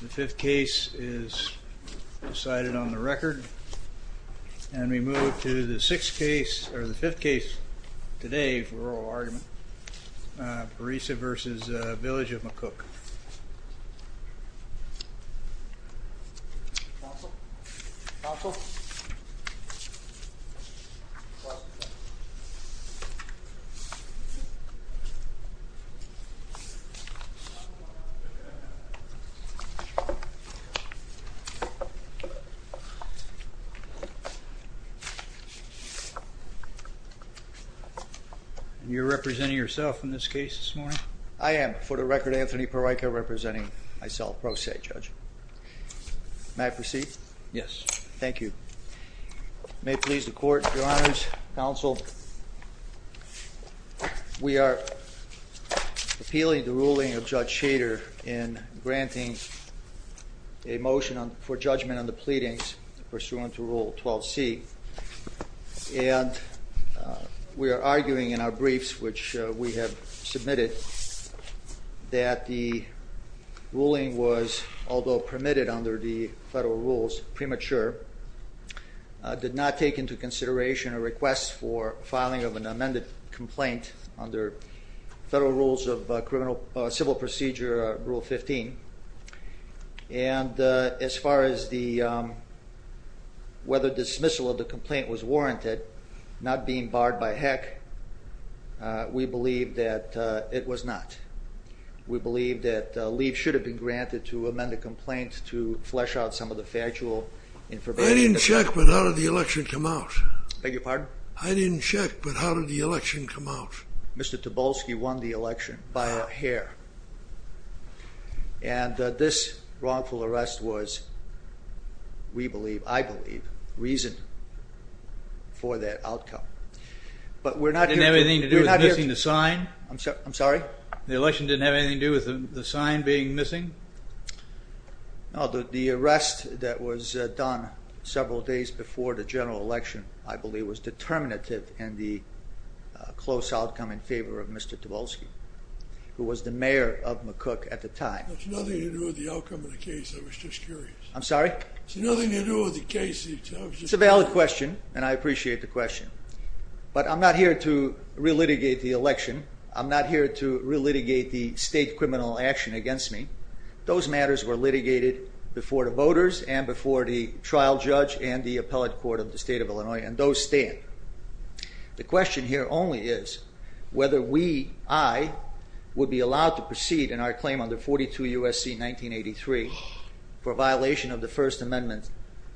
The fifth case is decided on the record and we move to the sixth case or the fifth case today for oral argument. Peraica v. Village of McCook You're representing yourself in this case this morning? I am, for the record, Anthony Peraica representing myself pro se, Judge. May I proceed? Yes. Thank you. May it please the Court, Your Honors, Counsel, we are appealing the ruling of Judge Shader in granting a motion for judgment on the pleadings pursuant to Rule 12c. And we are arguing in our briefs which we have submitted that the ruling was, although permitted under the federal rules premature, did not take into consideration a request for filing of an amended complaint under federal rules of civil procedure, Rule 15. And as far as whether dismissal of the complaint was warranted, not being barred by heck, we believe that it was not. We believe that leave should have been granted to amend the complaint to flesh out some of the factual information. I didn't check, but how did the election come out? I beg your pardon? I didn't check, but how did the election come out? Mr. Tobolsky won the election by a hair. And this wrongful arrest was, we believe, I believe, reason for that outcome. But we're not going to... Didn't have anything to do with missing the sign? I'm sorry? The election didn't have anything to do with the sign being missing? No, the arrest that was done several days before the general election, I believe, was determinative in the close outcome in favor of Mr. Tobolsky, who was the mayor of McCook at the time. It's nothing to do with the outcome of the case. I was just curious. I'm sorry? It's nothing to do with the case. It's a valid question, and I appreciate the question. But I'm not here to re-litigate the election. I'm not here to re-litigate the state criminal action against me. Those matters were litigated before the voters and before the trial judge and the appellate court of the state of Illinois, and those stand. The question here only is whether we, I, would be allowed to proceed in our claim under 42 U.S.C. 1983 for violation of the First Amendment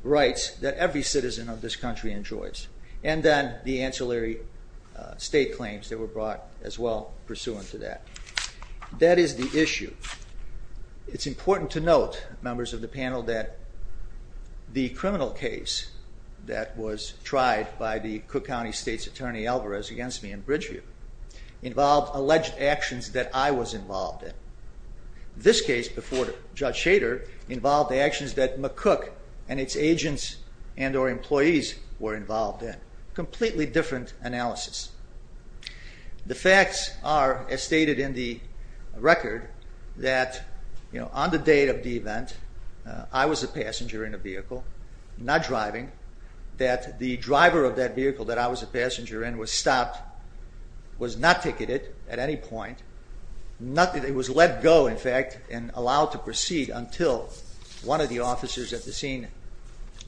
rights that every citizen of this country enjoys. And then the ancillary state claims that were brought as well pursuant to that. That is the issue. It's the criminal case that was tried by the Cook County State's Attorney Alvarez against me in Bridgeview involved alleged actions that I was involved in. This case before Judge Shader involved the actions that McCook and its agents and or employees were involved in. Completely different analysis. The facts are, as stated in the record, that on the date of the event, I was a passenger in a vehicle, not driving, that the driver of that vehicle that I was a passenger in was stopped, was not ticketed at any point. It was let go, in fact, and allowed to proceed until one of the officers at the scene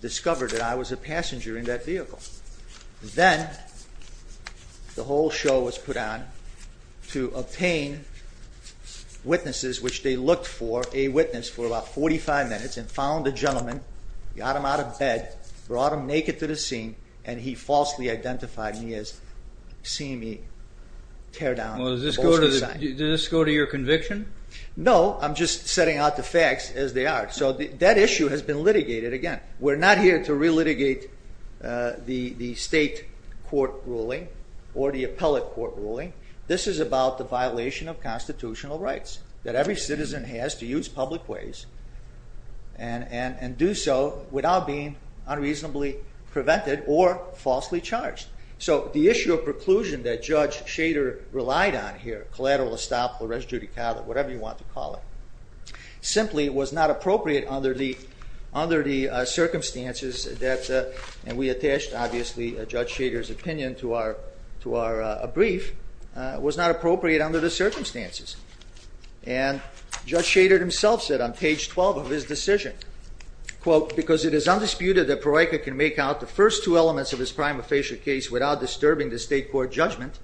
discovered that I was a passenger in that vehicle. Then the whole show was put on to obtain witnesses, which they looked for a witness for about 45 minutes and found the gentleman, got him out of bed, brought him naked to the scene, and he falsely identified me as seeing me tear down the Bolshevik sign. Well does this go to your conviction? No, I'm just setting out the facts as they are. So that issue has been litigated again. We're not here to re-litigate the state court ruling or the appellate court ruling. This is about the violation of constitutional rights that every citizen has to use public ways and do so without being unreasonably prevented or falsely charged. So the issue of preclusion that Judge Shader relied on here, collateral estoppel, res judicata, whatever you want to call it, simply was not appropriate under the circumstances that, and we attached, obviously, Judge Shader's opinion to our brief, was not appropriate under the circumstances. And Judge Shader himself said on page 12 of his decision, quote, because it is undisputed that Pareika can make out the first two elements of his prima facie case without disturbing the state court judgment,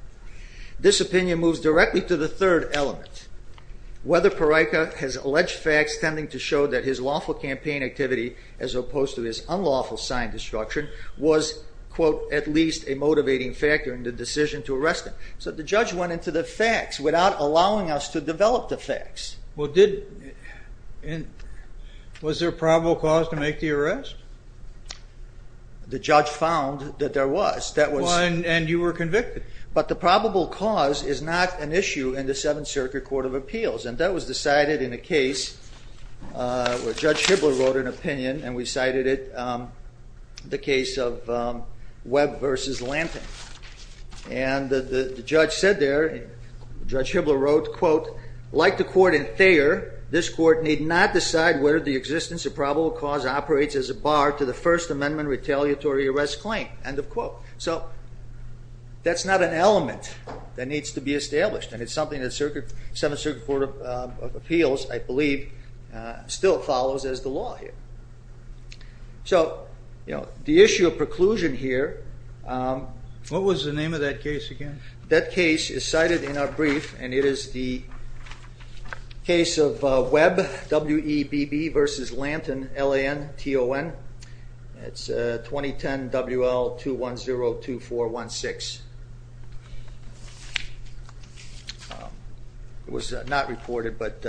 this opinion moves directly to the third element. Whether Pareika has alleged facts tending to show that his lawful campaign activity as opposed to his unlawful sign destruction was, quote, at least a motivating factor in the decision to arrest him. So the judge went into the facts without allowing us to develop the facts. Was there probable cause to make the arrest? The judge found that there was. And you were in the Seventh Circuit Court of Appeals. And that was decided in a case where Judge Hibbler wrote an opinion, and we cited it, the case of Webb versus Lanting. And the judge said there, Judge Hibbler wrote, quote, like the court in Thayer, this court need not decide whether the existence of probable cause operates as a bar to the First Amendment retaliatory arrest claim, end of quote. So that's not an element that needs to be established. And it's something that the Seventh Circuit Court of Appeals, I believe, still follows as the law here. So, you know, the issue of preclusion here. What was the name of that case again? That case is cited in our brief, and it is the case of Webb, W-E-B-B versus Lanton, L-A-N-T-O-N. It's 2010 W-L-2-1-0-2-4-1-6. It was not reported, but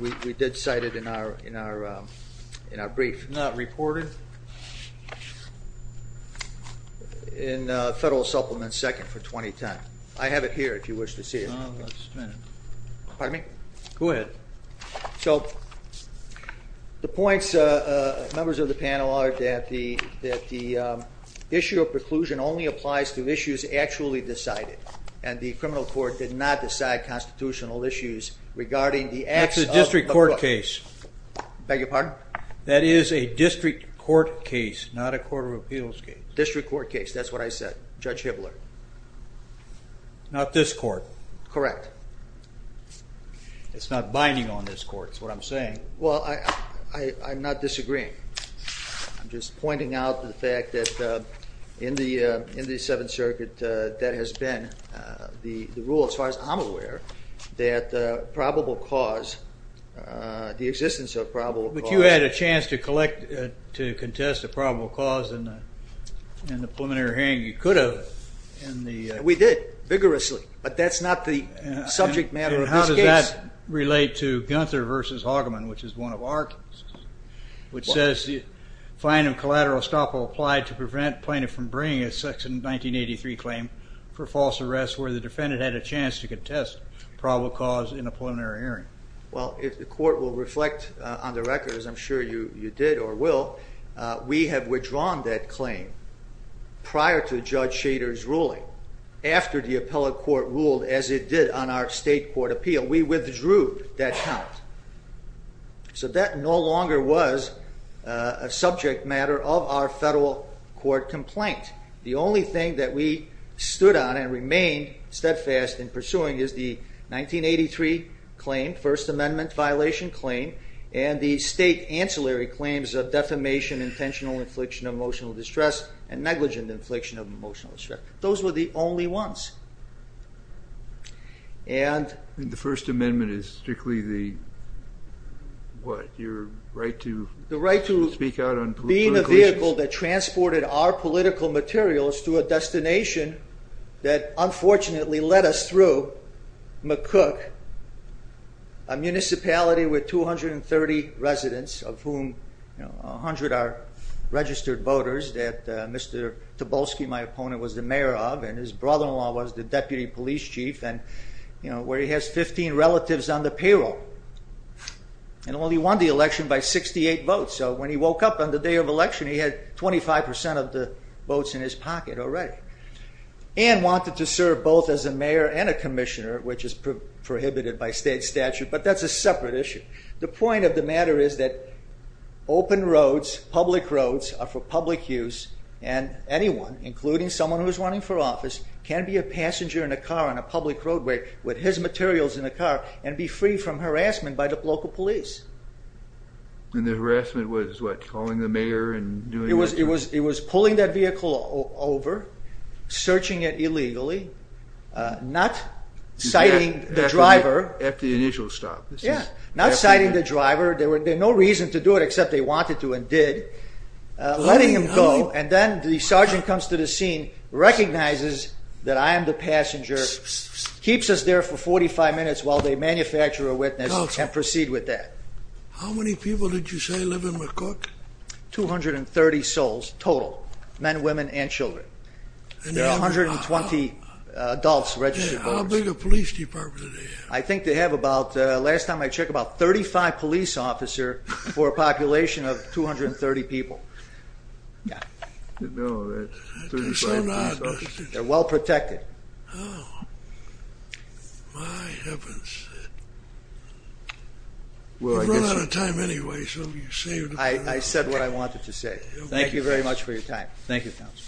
we did cite it in our brief. Not reported? In Federal Supplement 2nd for 2010. I have it here if you wish to see it. Pardon me? Go ahead. So the points, members of the panel, are that the issue of preclusion only applies to issues actually decided, and the criminal court did not decide constitutional issues regarding the acts of the court. That's a district court case. Beg your pardon? That is a district court case, not a court of appeals case. District court case, that's what I said, Judge Hibbler. Not this court? Correct. It's not binding on this court, is what I'm saying. Well, I'm not disagreeing. I'm just pointing out the fact that in the Seventh Circuit, that has been the rule, as far as I'm aware, that probable cause, the existence of probable cause. But you had a chance to collect, to contest a probable cause in the preliminary hearing. You could have. We did, vigorously, but that's not the subject matter of this case. And how does that relate to Gunther v. Haugaman, which is one of our cases, which says the fine of collateral estoppel applied to prevent plaintiff from bringing a section 1983 claim for false arrest where the defendant had a chance to contest probable cause in a preliminary hearing. Well, if the court will reflect on the record, as I'm sure you did or will, we have withdrawn that claim prior to Judge Shader's ruling, after the appellate court ruled as it did on our state court appeal. We withdrew that count. So that no longer was a subject matter of our federal court complaint. The only thing that we stood on and remained steadfast in pursuing is the 1983 claim, First Amendment violation claim, and the state ancillary claims of defamation, intentional infliction of emotional distress, and negligent infliction of emotional distress. Those were the only ones. The First Amendment is strictly your right to speak out on political issues? The right to be the vehicle that transported our political materials to a destination that unfortunately led us through McCook, a municipality with 230 residents, of whom 100 are registered voters, that Mr. Tobolsky, my opponent, was the mayor of, and his brother-in-law was the deputy police chief, where he has 15 relatives on the payroll, and only won the election by 68 votes. So when he woke up on the day of election, he had 25% of the votes in his pocket already, and wanted to serve both as a mayor and a commissioner, which is prohibited by state statute, but that's a separate issue. The point of the matter is that open roads, public roads, are for public use, and anyone, including someone who's running for office, can be a passenger in a car on a public roadway with his materials in a car, and be free from harassment by the local police. And the harassment was what, calling the mayor? It was pulling that vehicle over, searching it illegally, not citing the driver. At the initial stop? Yeah, not citing the driver, there was no reason to do it except they wanted to and did, letting him go, and then the sergeant comes to the scene, recognizes that I am the passenger, keeps us there for 45 minutes while they manufacture a witness, and proceed with that. How many people did you say live in McCook? 230 souls, total, men, women, and children. There are 120 adults registered. How big a police department do they have? I think they have about, last time I checked, about 35 police officers for a population of 230 people. I said what I wanted to say. Thank you very much for your time. Thank you, Counsel.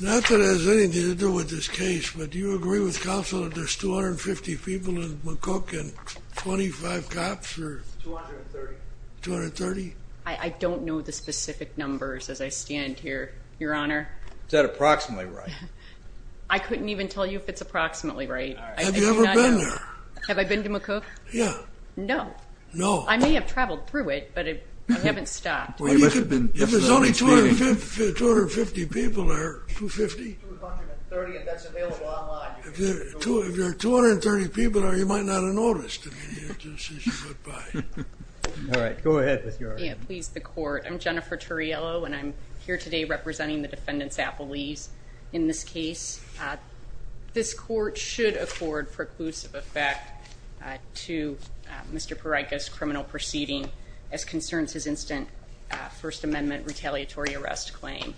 Not that it has anything to do with this case, but do you agree with Counsel that there's 250 people in McCook and 25 cops? 230. 230? I don't know the specific numbers as I stand here, Your Honor. Is that approximately right? I couldn't even tell you if it's approximately right. Have you ever been there? Have I been to McCook? Yeah. No. No. I may have traveled through it, but I haven't stopped. If there's only 250 people there, 250? If there are 230 people there, you might not have noticed. All right, go ahead. Please, the court. I'm Jennifer Turriello, and I'm here today representing the defendants' appellees in this case. This court should afford preclusive effect to Mr. Pereyka's criminal proceeding as concerns his instant First Amendment retaliatory arrest claim.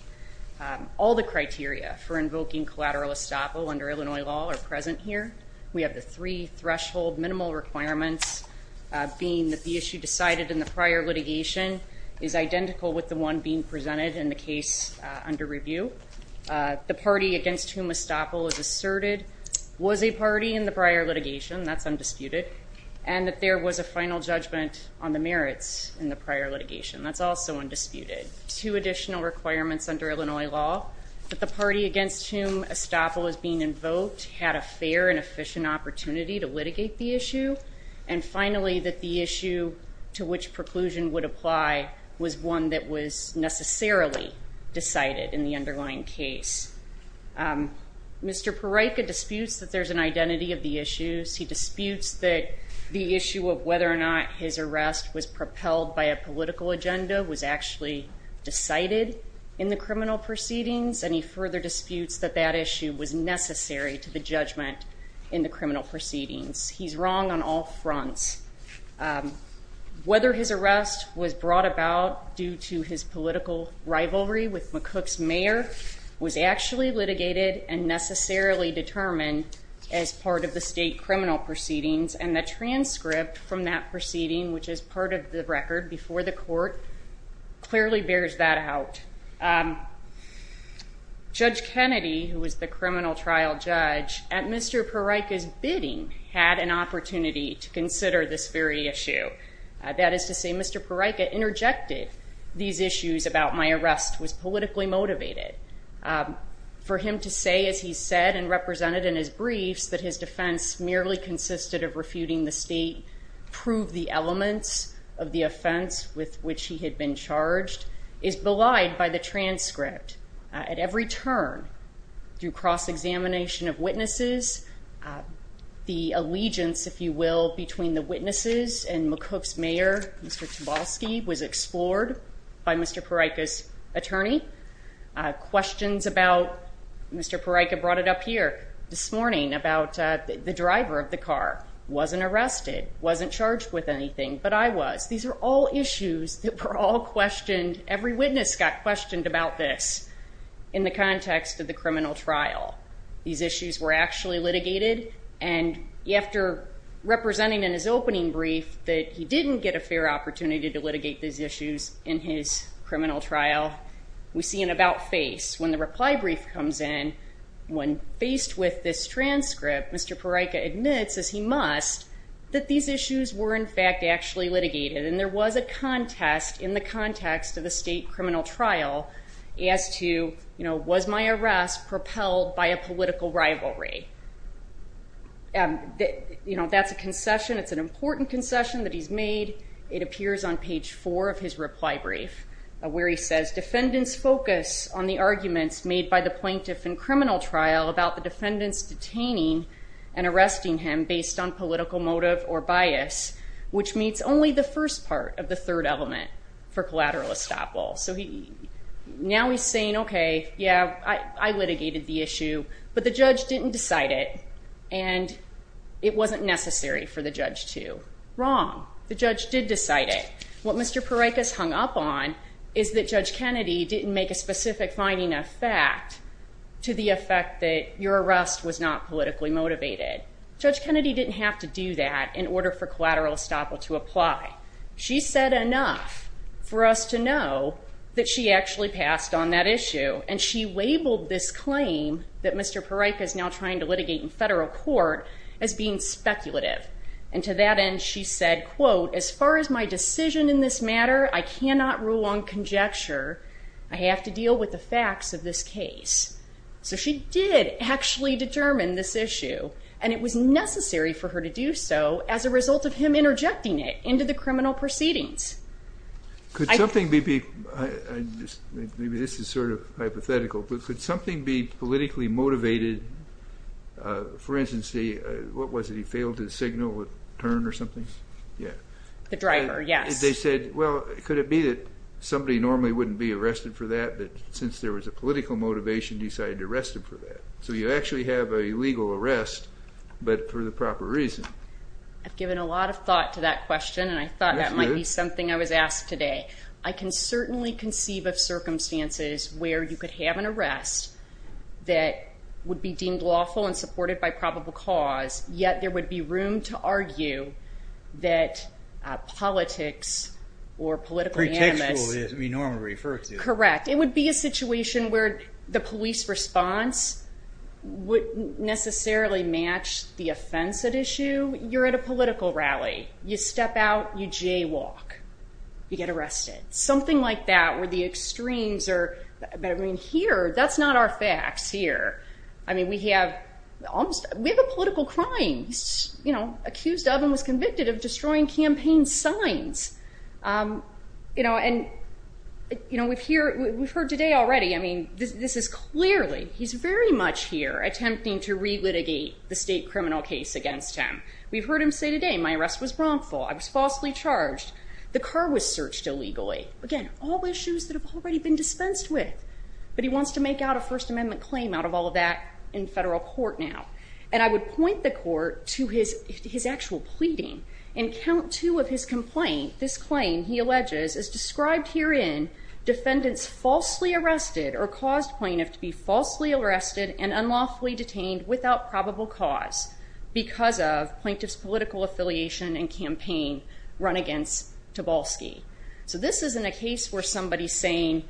All the criteria for invoking collateral estoppel under Illinois law are present here. We have the three threshold minimal requirements being that the issue decided in the prior litigation is identical with the one being presented in the case under review. The party against whom estoppel is asserted was a party in the prior litigation. That's undisputed. And that there was a final judgment on the merits in the prior litigation. That's also undisputed. Two additional requirements under Illinois law, that the party against whom estoppel is being invoked had a fair and efficient opportunity to litigate the issue. And finally, that the issue to which preclusion would apply was one that was necessarily decided in the underlying case. Mr. Pereyka disputes that there's an identity of the issues. He disputes that the issue of whether or not his arrest was propelled by a political agenda was actually decided in the criminal proceedings. And he further disputes that that issue was necessary to the judgment in the criminal proceedings. He's wrong on all fronts. Whether his arrest was brought about due to his political rivalry with McCook's mayor was actually litigated and necessarily determined as part of the state criminal proceedings. And the transcript from that proceeding, which is part of the record before the court, clearly bears that out. Judge Kennedy, who was the criminal trial judge, at Mr. Pereyka's bidding, had an opportunity to consider this very issue. That is to say, Mr. Pereyka interjected these issues about my arrest was politically motivated. For him to say, as he said and represented in his briefs, that his defense merely consisted of refuting the state prove the elements of the offense with which he had been charged is belied by the transcript. At every turn, through cross-examination of witnesses, the allegiance, if you will, between the witnesses and McCook's mayor, Mr. Chbosky, was explored by Mr. Pereyka's attorney. Questions about, Mr. Pereyka brought it up here this morning, about the driver of the car wasn't arrested, wasn't charged with anything, but I was. These are all issues that were all questioned. Every witness got questioned about this in the context of the criminal trial. These issues were actually litigated, and after representing in his opening brief that he didn't get a fair opportunity to litigate these issues in his criminal trial, we see an about face. When the reply brief comes in, when faced with this transcript, Mr. Pereyka admits, as he must, that these issues were in fact actually litigated. And there was a contest in the context of the state criminal trial as to, you know, was my arrest propelled by a political rivalry? You know, that's a concession. It's an important concession that he's made. It appears on page four of his reply brief, where he says, defendants focus on the arguments made by the plaintiff in criminal trial about the defendants detaining and arresting him based on political motive or bias, which meets only the first part of the third element for collateral estoppel. So now he's saying, okay, yeah, I litigated the issue, but the judge didn't decide it, and it wasn't necessary for the judge to. The judge did decide it. What Mr. Pereyka's hung up on is that Judge Kennedy didn't make a specific finding of fact to the effect that your arrest was not politically motivated. Judge Kennedy didn't have to do that in order for collateral estoppel to apply. She said enough for us to know that she actually passed on that issue, and she labeled this claim that Mr. Pereyka is now trying to litigate in federal court as being speculative. And to that end, she said, quote, as far as my decision in this matter, I cannot rule on conjecture. I have to deal with the facts of this case. So she did actually determine this issue, and it was necessary for her to do so as a result of him interjecting it into the criminal proceedings. Could something be, maybe this is sort of hypothetical, but could something be politically motivated? For instance, what was it, he failed to signal a turn or something? The driver, yes. They said, well, could it be that somebody normally wouldn't be arrested for that, but since there was a political motivation, decided to arrest him for that? So you actually have a legal arrest, but for the proper reason. I've given a lot of thought to that question, and I thought that might be something I was asked today. I can certainly conceive of circumstances where you could have an arrest that would be deemed lawful and supported by probable cause, yet there would be room to argue that politics or political animus. Pretextual, as we normally refer to it. You're at a political rally. You step out, you jaywalk. You get arrested. Something like that, where the extremes are, I mean, here, that's not our facts here. I mean, we have a political crime he's accused of and was convicted of destroying campaign signs. And we've heard today already, I mean, this is clearly, he's very much here attempting to re-litigate the state criminal case against him. We've heard him say today, my arrest was wrongful. I was falsely charged. The car was searched illegally. Again, all issues that have already been dispensed with, but he wants to make out a First Amendment claim out of all of that in federal court now. And I would point the court to his actual pleading and count two of his complaint. This claim, he alleges, is described herein, defendants falsely arrested or caused plaintiff to be falsely arrested and unlawfully detained without probable cause because of plaintiff's political affiliation and campaign run against Tobolsky. So this isn't a case where somebody's saying,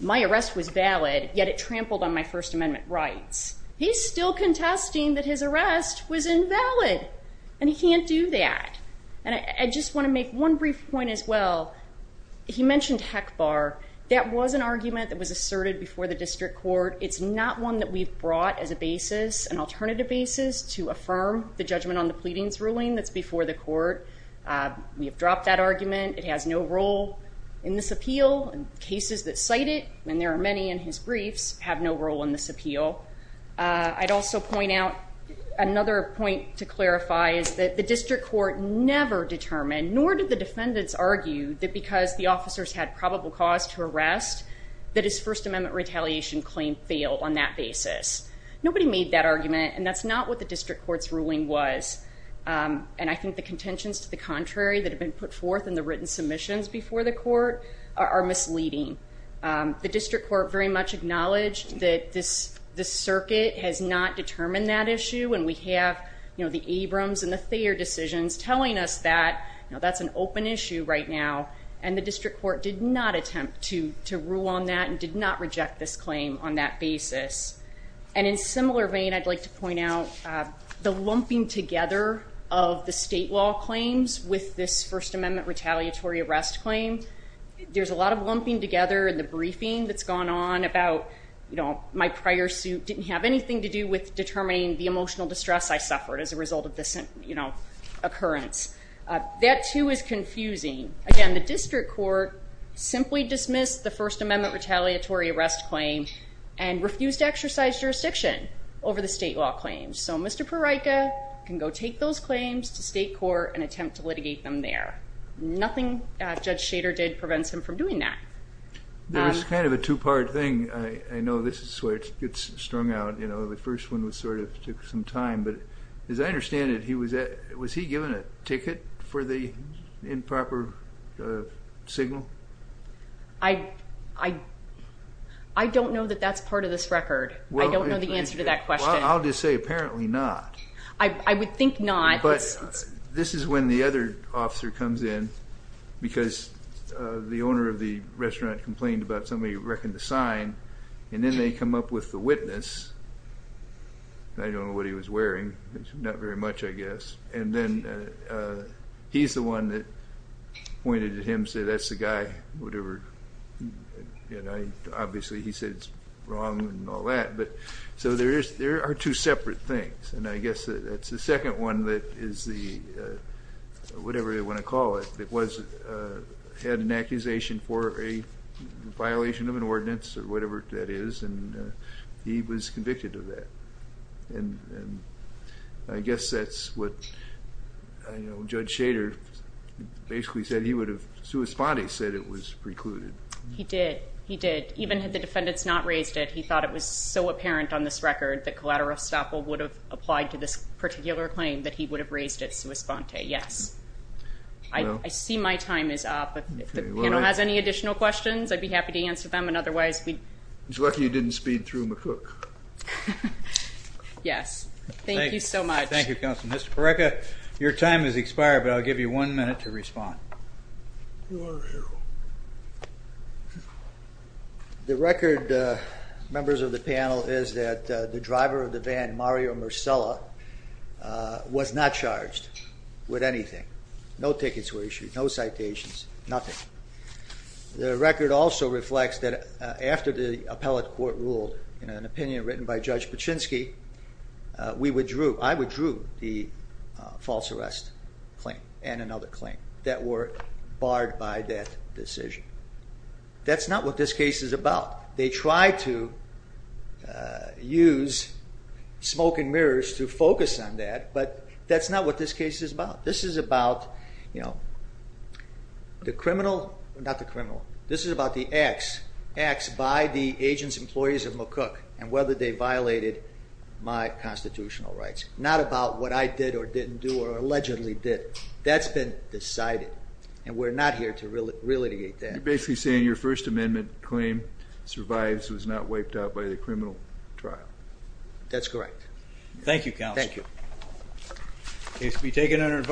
my arrest was valid, yet it trampled on my First Amendment rights. He's still contesting that his arrest was invalid. And he can't do that. And I just want to make one brief point as well. He mentioned HECBAR. That was an argument that was asserted before the district court. It's not one that we've brought as a basis, an alternative basis, to affirm the judgment on the pleadings ruling that's before the court. We have dropped that argument. It has no role in this appeal. And cases that cite it, and there are many in his briefs, have no role in this appeal. I'd also point out another point to clarify is that the district court never determined, nor did the defendants argue, that because the officers had probable cause to arrest, that his First Amendment retaliation claim failed on that basis. Nobody made that argument. And that's not what the district court's ruling was. And I think the contentions to the contrary that have been put forth in the written submissions before the court are misleading. The district court very much acknowledged that this circuit has not determined that issue. And we have the Abrams and the Thayer decisions telling us that that's an open issue right now. And the district court did not attempt to rule on that and did not reject this claim on that basis. And in similar vein, I'd like to point out the lumping together of the state law claims with this First Amendment retaliatory arrest claim. There's a lot of lumping together in the briefing that's gone on about, you know, my prior suit didn't have anything to do with determining the emotional distress I suffered as a result of this, you know, occurrence. That, too, is confusing. Again, the district court simply dismissed the First Amendment retaliatory arrest claim and refused to exercise jurisdiction over the state law claims. So, Mr. Prorica can go take those claims to state court and attempt to litigate them there. Nothing Judge Shader did prevents him from doing that. There was kind of a two-part thing. I know this is where it gets strung out. You know, the first one was sort of took some time. But as I understand it, was he given a ticket for the improper signal? I don't know that that's part of this record. I don't know the answer to that question. Well, I'll just say apparently not. I would think not. But this is when the other officer comes in, because the owner of the restaurant complained about somebody wrecking the sign, and then they come up with the witness. I don't know what he was wearing. Not very much, I guess. And then he's the one that pointed at him and said, that's the guy, whatever. Obviously, he said it's wrong and all that. So there are two separate things. And I guess that's the second one that is the whatever you want to call it, that had an accusation for a violation of an ordinance or whatever that is. And he was convicted of that. And I guess that's what Judge Shader basically said he would have, sui sponte said it was precluded. He did. He did. Applied to this particular claim that he would have raised it sui sponte. Yes. I see my time is up. If the panel has any additional questions, I'd be happy to answer them. And otherwise, we'd. It's lucky you didn't speed through McCook. Yes. Thank you so much. Thank you, Counselor. Mr. Parreca, your time has expired, but I'll give you one minute to respond. The record, members of the panel, is that the driver of the van, Mario Marcella, was not charged with anything. No tickets were issued. No citations. Nothing. The record also reflects that after the appellate court ruled in an opinion written by Judge Paczynski, we withdrew. I withdrew the false arrest claim and another claim that were barred by that decision. That's not what this case is about. They tried to use smoke and mirrors to focus on that, but that's not what this case is about. This is about the criminal. Not the criminal. Not about what I did or didn't do or allegedly did. That's been decided, and we're not here to relitigate that. You're basically saying your First Amendment claim survives. It was not wiped out by the criminal trial. That's correct. Thank you, Counselor. Thank you. The case will be taken under.